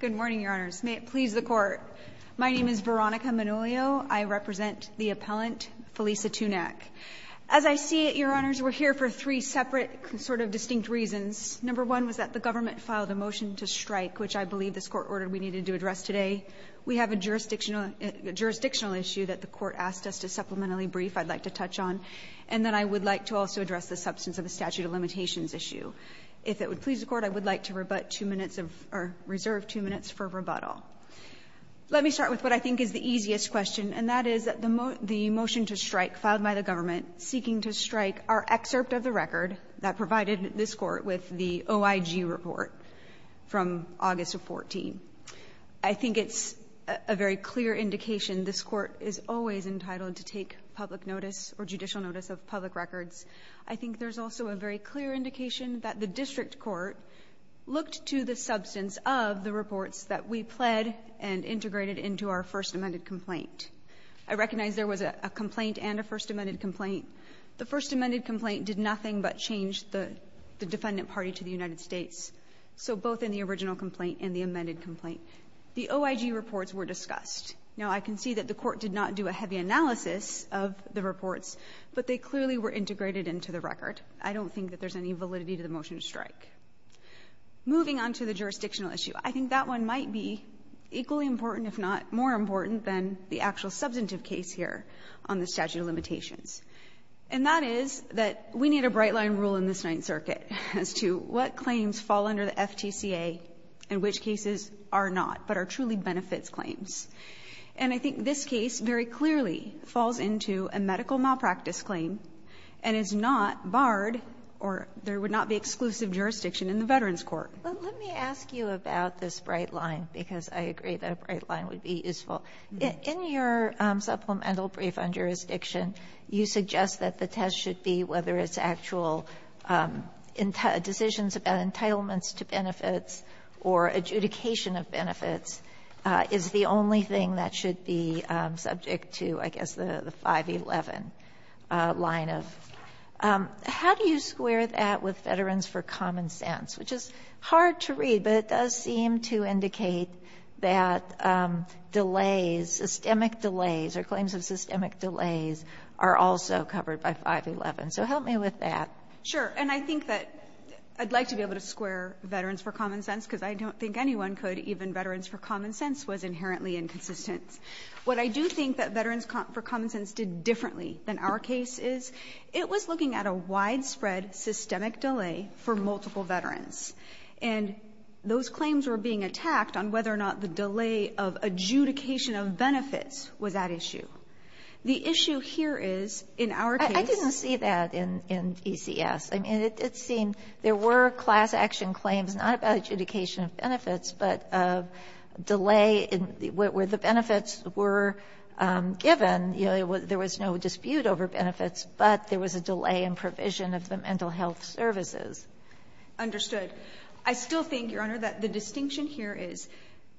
Good morning, Your Honors. May it please the Court, my name is Veronica Manolio. I represent the appellant, Felisa Tunac. As I see it, Your Honors, we're here for three separate sort of distinct reasons. Number one was that the government filed a motion to strike, which I believe this Court ordered we needed to address today. We have a jurisdictional issue that the Court asked us to supplementally brief, I'd like to touch on, and then I would like to also address the substance of the statute of limitations issue. If it would please the Court, I would like to rebut two minutes of or reserve two minutes for rebuttal. Let me start with what I think is the easiest question, and that is that the motion to strike filed by the government seeking to strike our excerpt of the record that provided this Court with the OIG report from August of 2014. I think it's a very clear indication this Court is always entitled to take public notice or judicial notice of public records. I think there's also a very clear indication that the district court looked to the substance of the reports that we pled and integrated into our first amended complaint. I recognize there was a complaint and a first amended complaint. The first amended complaint did nothing but change the defendant party to the United States, so both in the original complaint and the amended complaint. The OIG reports were discussed. Now, I can see that the Court did not do a heavy analysis of the reports, but they clearly were integrated into the record. I don't think that there's any validity to the motion to strike. Moving on to the jurisdictional issue, I think that one might be equally important, if not more important, than the actual substantive case here on the statute of limitations. And that is that we need a bright-line rule in this Ninth Circuit as to what claims fall under the FTCA and which cases are not, but are truly benefits claims. And I think this case very clearly falls into a medical malpractice claim and is not barred or there would not be exclusive jurisdiction in the Veterans Court. Kagan, let me ask you about this bright-line, because I agree that a bright-line would be useful. In your supplemental brief on jurisdiction, you suggest that the test should be whether its actual decisions about entitlements to benefits or adjudication of benefits is the only thing that should be subject to, I guess, the 511 line of. How do you square that with veterans for common sense, which is hard to read, but it does seem to indicate that delays, systemic delays or claims of systemic delays are also covered by 511. So help me with that. Sure. And I think that I'd like to be able to square veterans for common sense, because I don't think anyone could, even veterans for common sense was inherently inconsistent. What I do think that veterans for common sense did differently than our case is, it was looking at a widespread systemic delay for multiple veterans. And those claims were being attacked on whether or not the delay of adjudication of benefits was at issue. The issue here is, in our case ---- I didn't see that in ECS. I mean, it seemed there were class action claims, not about adjudication of benefits, but of delay where the benefits were given. You know, there was no dispute over benefits, but there was a delay in provision of the mental health services. Understood. I still think, Your Honor, that the distinction here is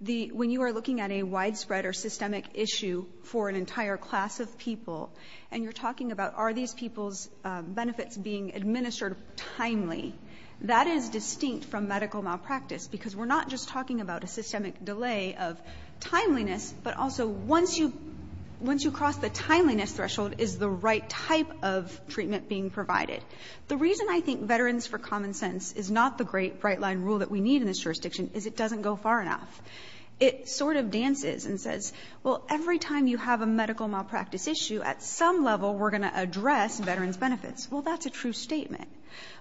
the ---- when you are looking at a widespread or systemic issue for an entire class of people, and you're talking about are these people's benefits being administered timely, that is distinct from medical malpractice, because we're not just talking about a systemic delay of timeliness, but also once you cross the timeliness threshold, is the right type of treatment being provided. The reason I think veterans for common sense is not the great, bright-line rule that we need in this jurisdiction is it doesn't go far enough. It sort of dances and says, well, every time you have a medical malpractice issue, at some level, we're going to address veterans' benefits. Well, that's a true statement.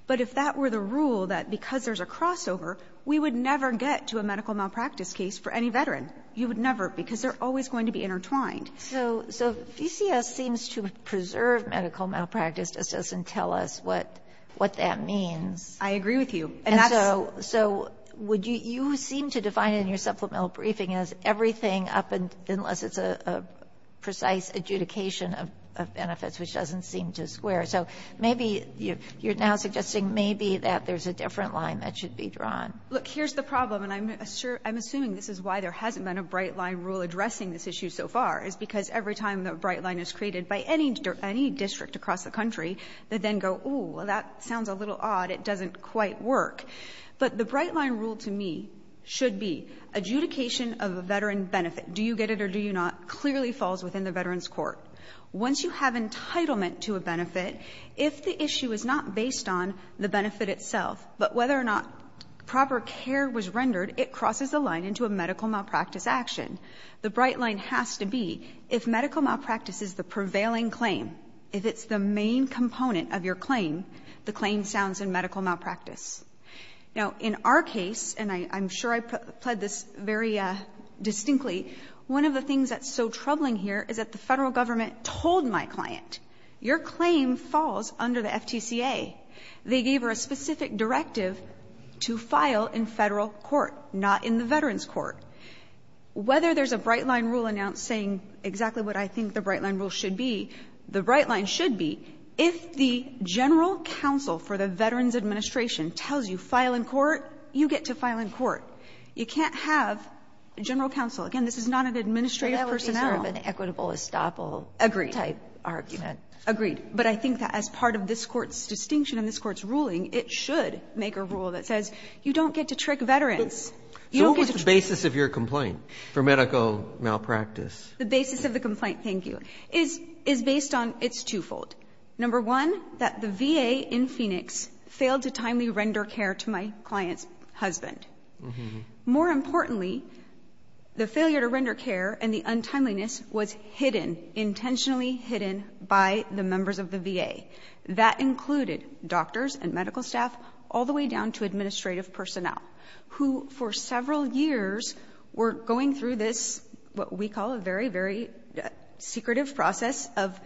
But if that were the rule that because there's a crossover, we would never get to a medical malpractice case for any veteran. You would never, because they're always going to be intertwined. So, so, VCS seems to preserve medical malpractice, just doesn't tell us what that means. I agree with you. And that's the ---- And so, so would you seem to define in your supplemental briefing as everything up, unless it's a precise adjudication of benefits, which doesn't seem to square. So maybe you're now suggesting maybe that there's a different line that should be drawn. Look, here's the problem, and I'm assuming this is why there hasn't been a bright-line rule addressing this issue so far, is because every time a bright-line is created by any district across the country, they then go, oh, well, that sounds a little odd, it doesn't quite work. But the bright-line rule to me should be adjudication of a veteran benefit. Do you get it or do you not clearly falls within the Veterans Court. Once you have entitlement to a benefit, if the issue is not based on the benefit itself, but whether or not proper care was rendered, it crosses a line into a medical malpractice action. The bright-line has to be if medical malpractice is the prevailing claim, if it's the main component of your claim, the claim sounds in medical malpractice. Now, in our case, and I'm sure I pled this very distinctly, one of the things that's so troubling here is that the Federal Government told my client, your claim falls under the FTCA. They gave her a specific directive to file in Federal Court, not in the Veterans Court. Whether there's a bright-line rule announcing exactly what I think the bright-line rule should be, the bright-line should be if the general counsel for the Veterans Administration tells you file in court, you get to file in court. You can't have general counsel. Again, this is not an administrative personnel. Ginsburg-McGillivray-Ford That would be sort of an equitable estoppel type argument. O'ConnellAgreed. But I think that as part of this Court's distinction and this Court's ruling, it should make a rule that says you don't get to trick veterans. You don't get to trick veterans. Roberts-Gillis So what was the basis of your complaint for medical malpractice? O'ConnellA The basis of the complaint, thank you, is based on its twofold. Number one, that the VA in Phoenix failed to timely render care to my client's husband. More importantly, the failure to render care and the untimeliness was hidden, intentionally hidden by the members of the VA. That included doctors and medical staff all the way down to administrative personnel, who for several years were going through this, what we call a very, very secretive process of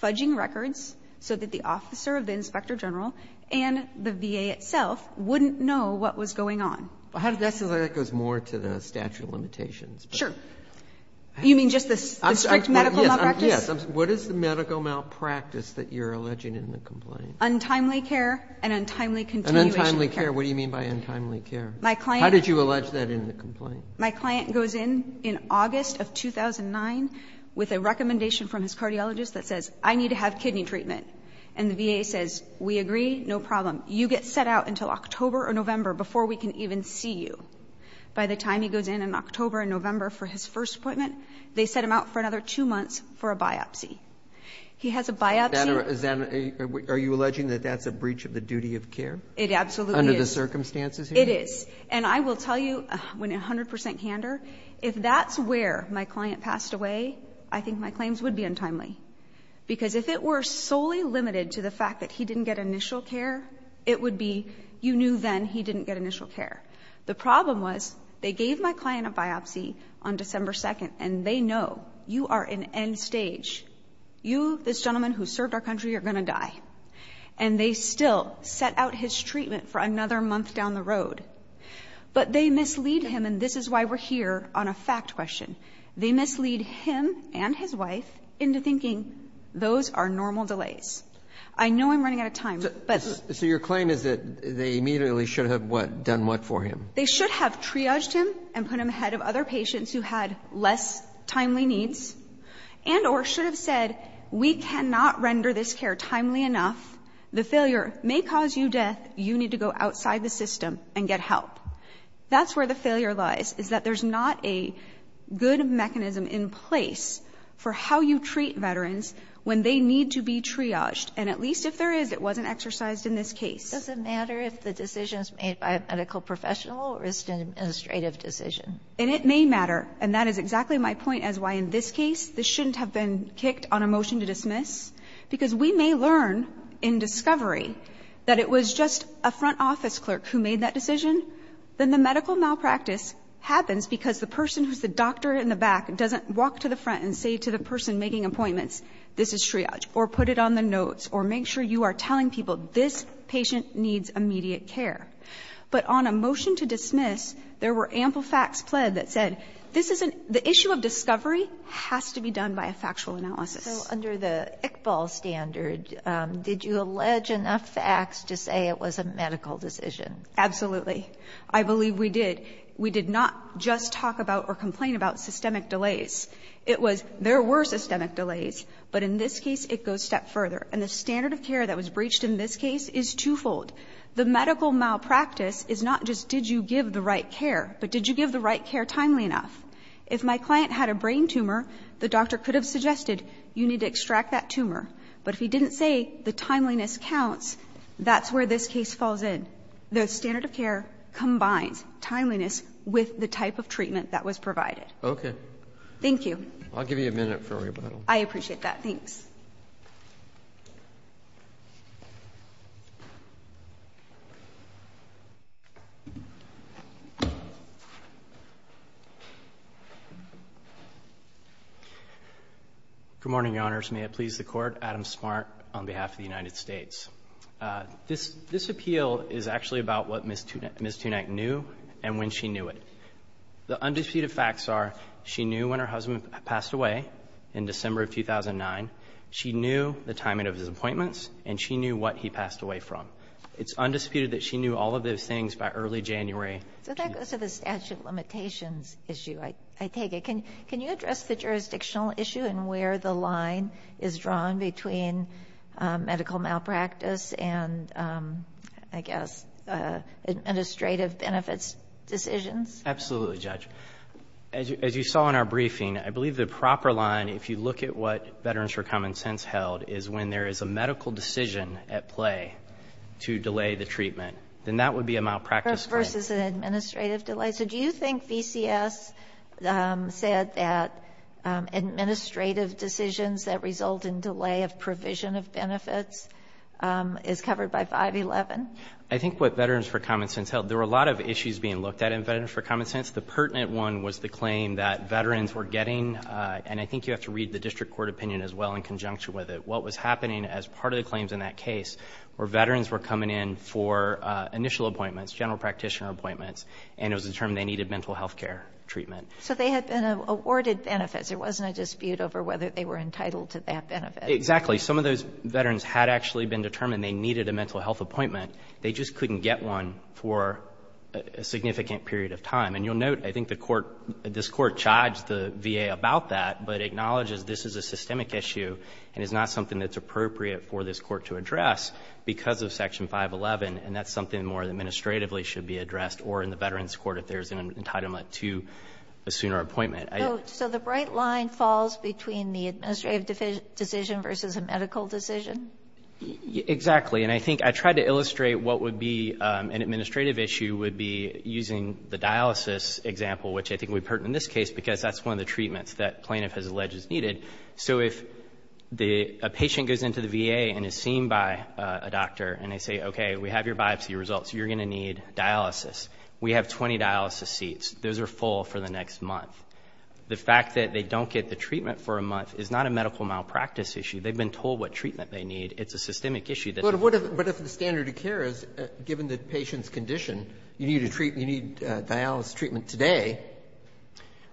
fudging records so that the officer of the inspector general and the VA itself wouldn't know what was going on. Ginsburg-McGillivray-Ford Well, that goes more to the statute of limitations. O'ConnellA Sure. Ginsburg-McGillivray-Ford Yes. What is the medical malpractice that you're alleging in the complaint? O'ConnellA Untimely care and untimely continuation of care. Ginsburg-McGillivray-Ford And untimely care, what do you mean by untimely care? How did you allege that in the complaint? O'ConnellA My client goes in in August of 2009 with a recommendation from his cardiologist that says, I need to have kidney treatment. And the VA says, we agree, no problem. You get set out until October or November before we can even see you. By the time he goes in in October and November for his first appointment, they set him out for another two months for a biopsy. He has a biopsy. Ginsburg-McGillivray-Ford Is that a, are you alleging that that's a breach of the duty of care? O'ConnellA It absolutely is. Ginsburg-McGillivray-Ford Under the circumstances here? O'ConnellA It is. And I will tell you, 100% candor, if that's where my client passed away, I think my claims would be untimely. Because if it were solely limited to the fact that he didn't get initial care, it would be, you knew then he didn't get initial care. The problem was, they gave my client a biopsy on December 2nd, and they know, you are in end stage. And they still set out his treatment for another month down the road. But they mislead him, and this is why we're here on a fact question. They mislead him and his wife into thinking those are normal delays. I know I'm running out of time, but the other thing is that they immediately should have done what for him? They should have triaged him and put him ahead of other patients who had less timely needs, and or should have said, we cannot render this care timely enough, the failure may cause you death, you need to go outside the system and get help. That's where the failure lies, is that there's not a good mechanism in place for how you treat veterans when they need to be triaged. And at least if there is, it wasn't exercised in this case. Kagan It doesn't matter if the decision is made by a medical professional or it's an administrative decision. O'ConnellA And it may matter. And that is exactly my point as why in this case, this shouldn't have been kicked on a motion to dismiss. Because we may learn in discovery that it was just a front office clerk who made that decision. Then the medical malpractice happens because the person who's the doctor in the back doesn't walk to the front and say to the person making appointments, this is triage, or put it on the notes, or make sure you are telling people this patient needs immediate care. But on a motion to dismiss, there were ample facts pled that said, this is an the issue of discovery has to be done by a factual analysis. Kagan So under the Iqbal standard, did you allege enough facts to say it was a medical decision? O'ConnellA Absolutely. I believe we did. We did not just talk about or complain about systemic delays. It was there were systemic delays, but in this case, it goes a step further. And the standard of care that was breached in this case is twofold. The medical malpractice is not just did you give the right care, but did you give the right care timely enough? If my client had a brain tumor, the doctor could have suggested you need to extract that tumor. But if he didn't say the timeliness counts, that's where this case falls in. The standard of care combines timeliness with the type of treatment that was provided. RobertsonOkay. O'ConnellA Thank you. RobertsonI'll give you a minute for rebuttal. O'ConnellAI appreciate that. Thanks. Smart on behalf of the United States. This appeal is actually about what Ms. Tunack knew and when she knew it. The undisputed facts are she knew when her husband passed away in December of 2009. She knew the timing of his appointments and she knew what he passed away from. It's undisputed that she knew all of those things by early January. GinsburgSo that goes to the statute of limitations issue, I take it. Can you address the jurisdictional issue and where the line is drawn between medical malpractice and, I guess, administrative benefits decisions? O'ConnellAbsolutely, Judge. As you saw in our briefing, I believe the proper line, if you look at what Veterans for Common Sense held, is when there is a medical decision at play to delay the treatment. Then that would be a malpractice claim. GinsburgVersus an administrative delay. So do you think VCS said that administrative decisions that result in delay of provision of benefits is covered by 511? O'ConnellI think what Veterans for Common Sense held, there were a lot of issues being looked at in Veterans for Common Sense. The pertinent one was the claim that veterans were getting, and I think you have to read the district court opinion as well in conjunction with it. What was happening as part of the claims in that case were veterans were coming in for initial appointments, general practitioner appointments, and it was determined they needed mental health care treatment. KaganSo they had been awarded benefits. There wasn't a dispute over whether they were entitled to that benefit. O'ConnellExactly. Some of those veterans had actually been determined they needed a mental health appointment. They just couldn't get one for a significant period of time. And you'll note, I think the Court, this Court charged the VA about that, but acknowledges this is a systemic issue and is not something that's appropriate for this Court to address because of Section 511, and that's something that more administratively should be addressed or in the Veterans Court if there's an entitlement to a sooner appointment. KaganSo the bright line falls between the administrative decision versus a medical decision? O'ConnellExactly. And I think I tried to illustrate what would be an administrative issue would be using the dialysis example, which I think we've heard in this case, because that's one of the treatments that plaintiff has alleged is needed. So if a patient goes into the VA and is seen by a doctor, and they say, okay, we have your biopsy results, you're going to need dialysis, we have 20 dialysis seats, those are full for the next month. The fact that they don't get the treatment for a month is not a medical malpractice issue. They've been told what treatment they need. It's a systemic issue. KennedyBut if the standard of care is, given the patient's condition, you need dialysis treatment today.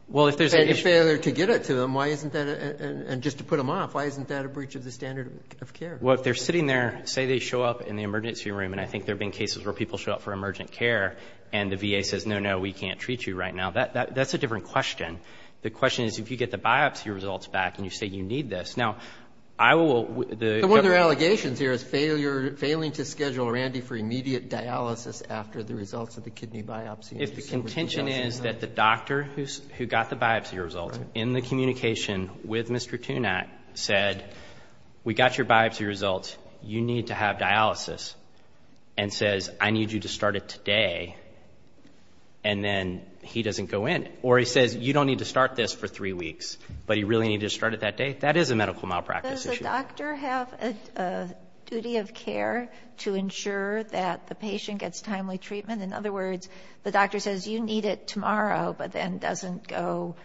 O'ConnellWell, if there's a issue KennedyFailure to get it to them, why isn't that, and just to put them off, why isn't that a breach of the standard of care? O'ConnellWell, if they're sitting there, say they show up in the emergency room, and I think there have been cases where people show up for emergent care, and the VA says, no, no, we can't treat you right now. That's a different question. The question is, if you get the biopsy results back, and you say you need this. Now, I will KennedyOne of their allegations here is failing to schedule Randy for immediate dialysis after the results of the kidney biopsy. O'ConnellIf the contention is that the doctor who got the biopsy results, in the communication with Mr. Tunat, said, we got your biopsy results. You need to have dialysis, and says, I need you to start it today, and then he doesn't go in. Or he says, you don't need to start this for three weeks, but you really need to start it that day. That is a medical malpractice issue. KennedyDoes the doctor have a duty of care to ensure that the patient gets timely treatment? In other words, the doctor says, you need it tomorrow, but then doesn't go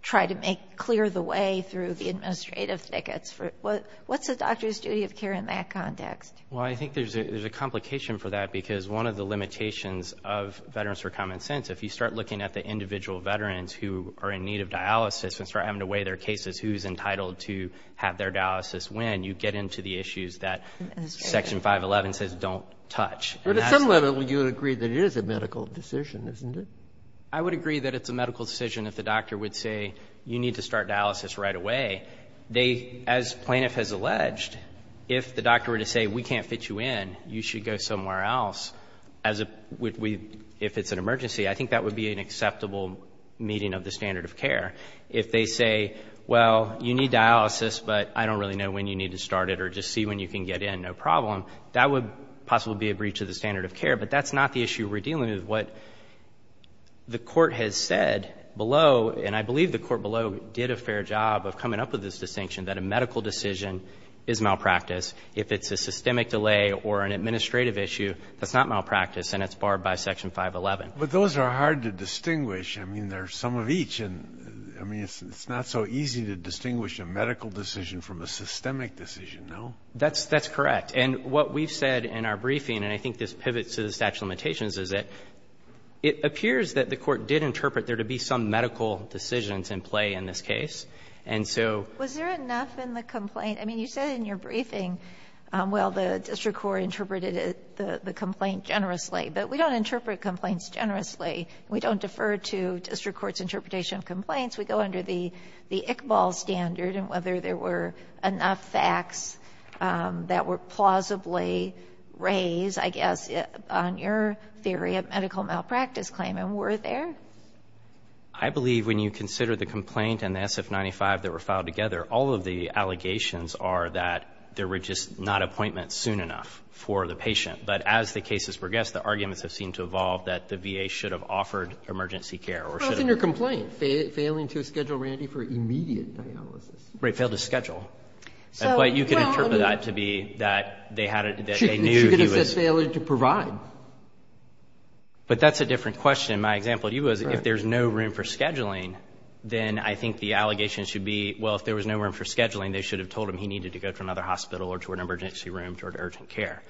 try to make clear the way through the administrative tickets. What's the doctor's duty of care in that context? O'ConnellWell, I think there's a complication for that, because one of the limitations of Veterans for Common Sense, if you start looking at the individual veterans who are in need of dialysis, and start having to weigh their cases, who's entitled to have their dialysis when, you get into the issues that Section 511 says don't touch. And that's the problem. GinsburgBut at some level, you would agree that it is a medical decision, isn't it? O'ConnellI would agree that it's a medical decision if the doctor would say, you need to start dialysis right away. They, as Plaintiff has alleged, if the doctor were to say, we can't fit you in, you should go somewhere else, as a we we, if it's an emergency, I think that would be an acceptable meeting of the standard of care. If they say, well, you need dialysis, but I don't really know when you need to start it, or just see when you can get in, no problem, that would possibly be a breach of the standard of care. But that's not the issue we're dealing with. What the Court has said below, and I believe the Court below did a fair job of coming up with this distinction, that a medical decision is malpractice. If it's a systemic delay or an administrative issue, that's not malpractice, and it's barred by Section 511. KennedyBut those are hard to distinguish. I mean, they're some of each, and I mean, it's not so easy to distinguish a medical decision from a systemic decision. That's correct. And what we've said in our briefing, and I think this pivots to the statute of limitations, is that it appears that the Court did interpret there to be some medical decisions in play in this case. And so was there enough in the complaint? I mean, you said in your briefing, well, the district court interpreted it, the complaint generously, but we don't interpret complaints generously. We don't defer to district courts' interpretation of complaints. We go under the Iqbal standard, and whether there were enough facts that were plausibly raised, I guess, on your theory of medical malpractice claim, and were there? I believe when you consider the complaint and the SF-95 that were filed together, all of the allegations are that there were just not appointments soon enough for the patient. But as the cases progressed, the arguments have seemed to evolve that the VA should have offered emergency care or should have. So there's a complaint, failing to schedule Randy for immediate dialysis. Right, failed to schedule. But you can interpret that to be that they had a, that they knew he was. She could have just failed to provide. But that's a different question. My example to you is if there's no room for scheduling, then I think the allegation should be, well, if there was no room for scheduling, they should have told him he needed to go to another hospital or to an emergency room or to urgent care.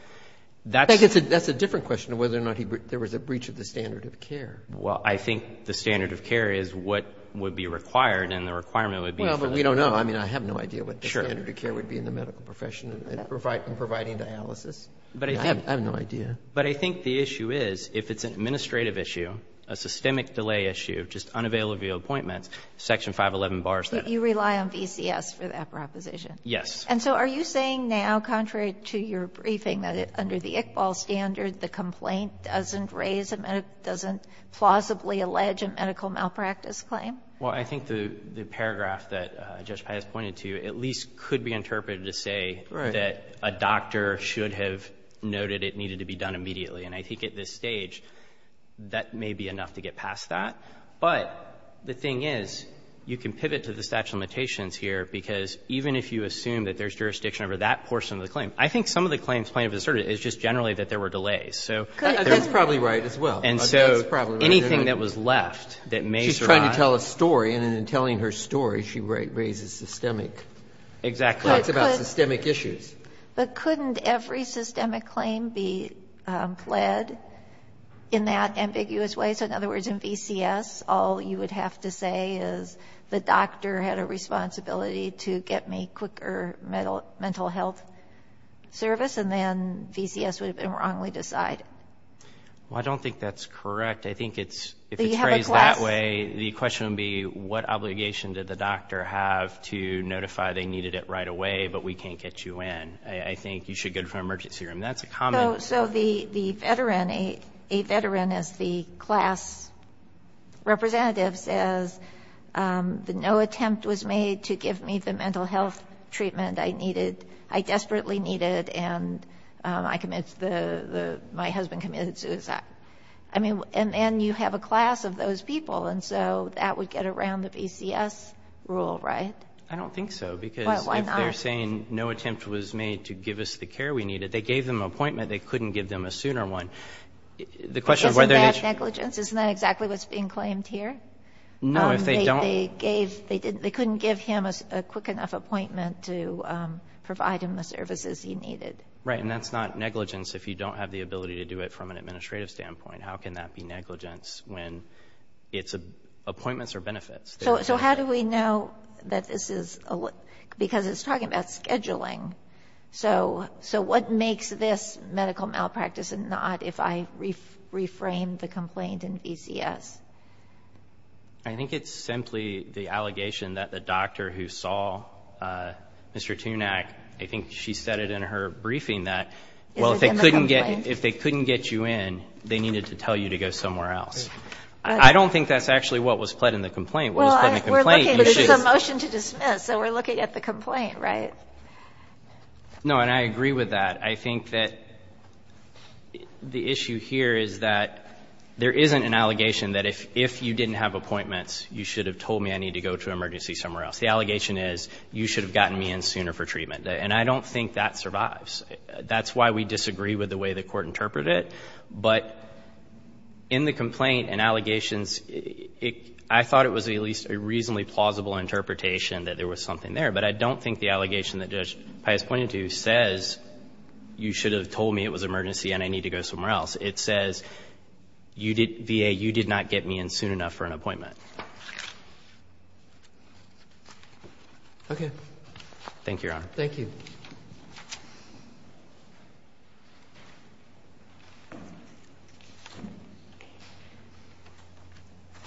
That's a different question of whether or not there was a breach of the standard of care. Well, I think the standard of care is what would be required, and the requirement would be for that. Well, but we don't know. I mean, I have no idea what the standard of care would be in the medical profession in providing dialysis. I have no idea. But I think the issue is, if it's an administrative issue, a systemic delay issue, just unavailable appointments, Section 511 bars that. You rely on VCS for that proposition. Yes. And so are you saying now, contrary to your briefing, that under the Iqbal standard, the complaint doesn't raise a medical or doesn't plausibly allege a medical malpractice claim? Well, I think the paragraph that Judge Pius pointed to at least could be interpreted to say that a doctor should have noted it needed to be done immediately. And I think at this stage, that may be enough to get past that. But the thing is, you can pivot to the statute of limitations here, because even if you assume that there's jurisdiction over that portion of the claim, I think some of the claims plaintiff has asserted is just generally that there were delays. So there's not anything that was left that may survive. She's trying to tell a story, and in telling her story, she raises systemic. Exactly. Talks about systemic issues. But couldn't every systemic claim be pled in that ambiguous way? So in other words, in VCS, all you would have to say is the doctor had a responsibility to get me quicker mental health service, and then VCS would have been wrong. We decide. Well, I don't think that's correct. I think if it's phrased that way, the question would be, what obligation did the doctor have to notify they needed it right away, but we can't get you in? I think you should go to an emergency room. That's a common. So the veteran, a veteran is the class representative, says that no attempt was made to give me the mental health treatment I needed, I desperately needed, and I committed the, my husband committed suicide. I mean, and you have a class of those people, and so that would get around the VCS rule, right? I don't think so, because if they're saying no attempt was made to give us the care we needed, they gave them an appointment, they couldn't give them a sooner one. Isn't that negligence? Isn't that exactly what's being claimed here? No, if they don't. They gave, they didn't, they couldn't give him a quick enough appointment to provide him the services he needed. Right, and that's not negligence if you don't have the ability to do it from an administrative standpoint. How can that be negligence when it's appointments or benefits? So how do we know that this is, because it's talking about scheduling. So what makes this medical malpractice a nod if I reframe the complaint in VCS? I think it's simply the allegation that the doctor who saw Mr. Tunack, I think she said it in her briefing that, well, if they couldn't get, if they couldn't get you in, they needed to tell you to go somewhere else. I don't think that's actually what was pled in the complaint. What was pled in the complaint issues. Well, we're looking, this is a motion to dismiss, so we're looking at the complaint, right? No, and I agree with that. I think that the issue here is that there isn't an allegation that if you didn't have appointments, you should have told me I need to go to an emergency somewhere else. The allegation is you should have gotten me in sooner for treatment. And I don't think that survives. That's why we disagree with the way the Court interpreted it. But in the complaint and allegations, I thought it was at least a reasonably plausible interpretation that there was something there. But I don't think the allegation that Judge Pius pointed to says you should have told me it was an emergency and I need to go somewhere else. It says, VA, you did not get me in soon enough for an appointment. Okay. Thank you, Your Honor. Thank you.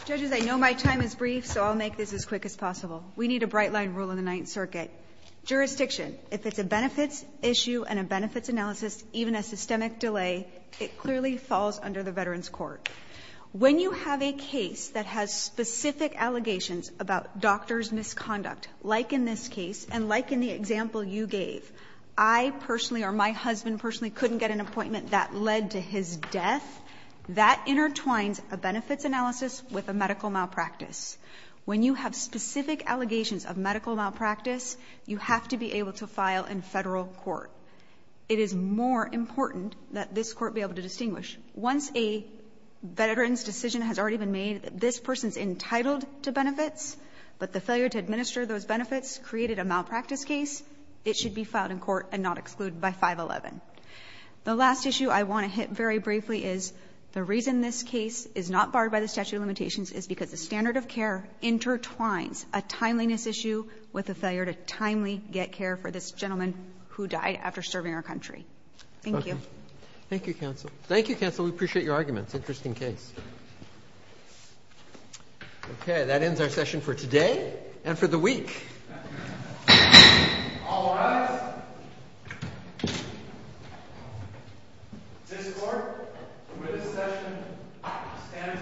Judges, I know my time is brief, so I'll make this as quick as possible. We need a bright-line rule in the Ninth Circuit. Jurisdiction, if it's a benefits issue and a benefits analysis, even a systemic delay, it clearly falls under the Veterans Court. When you have a case that has specific allegations about doctor's misconduct, like in this case and like in the example you gave, I personally or my husband personally couldn't get an appointment that led to his death, that intertwines a benefits analysis with a medical malpractice. When you have specific allegations of medical malpractice, you have to be able to file in Federal court. It is more important that this court be able to distinguish. Once a veteran's decision has already been made that this person is entitled to benefits, but the failure to administer those benefits created a malpractice case, it should be filed in court and not excluded by 511. The last issue I want to hit very briefly is the reason this case is not barred by the statute of limitations is because the standard of care intertwines a timeliness issue with a failure to timely get care for this gentleman who died after serving our country. Thank you. Roberts. Thank you, counsel. Thank you, counsel. We appreciate your arguments. Interesting case. Okay. That ends our session for today and for the week. All rise. This court, with this session, stands adjourned.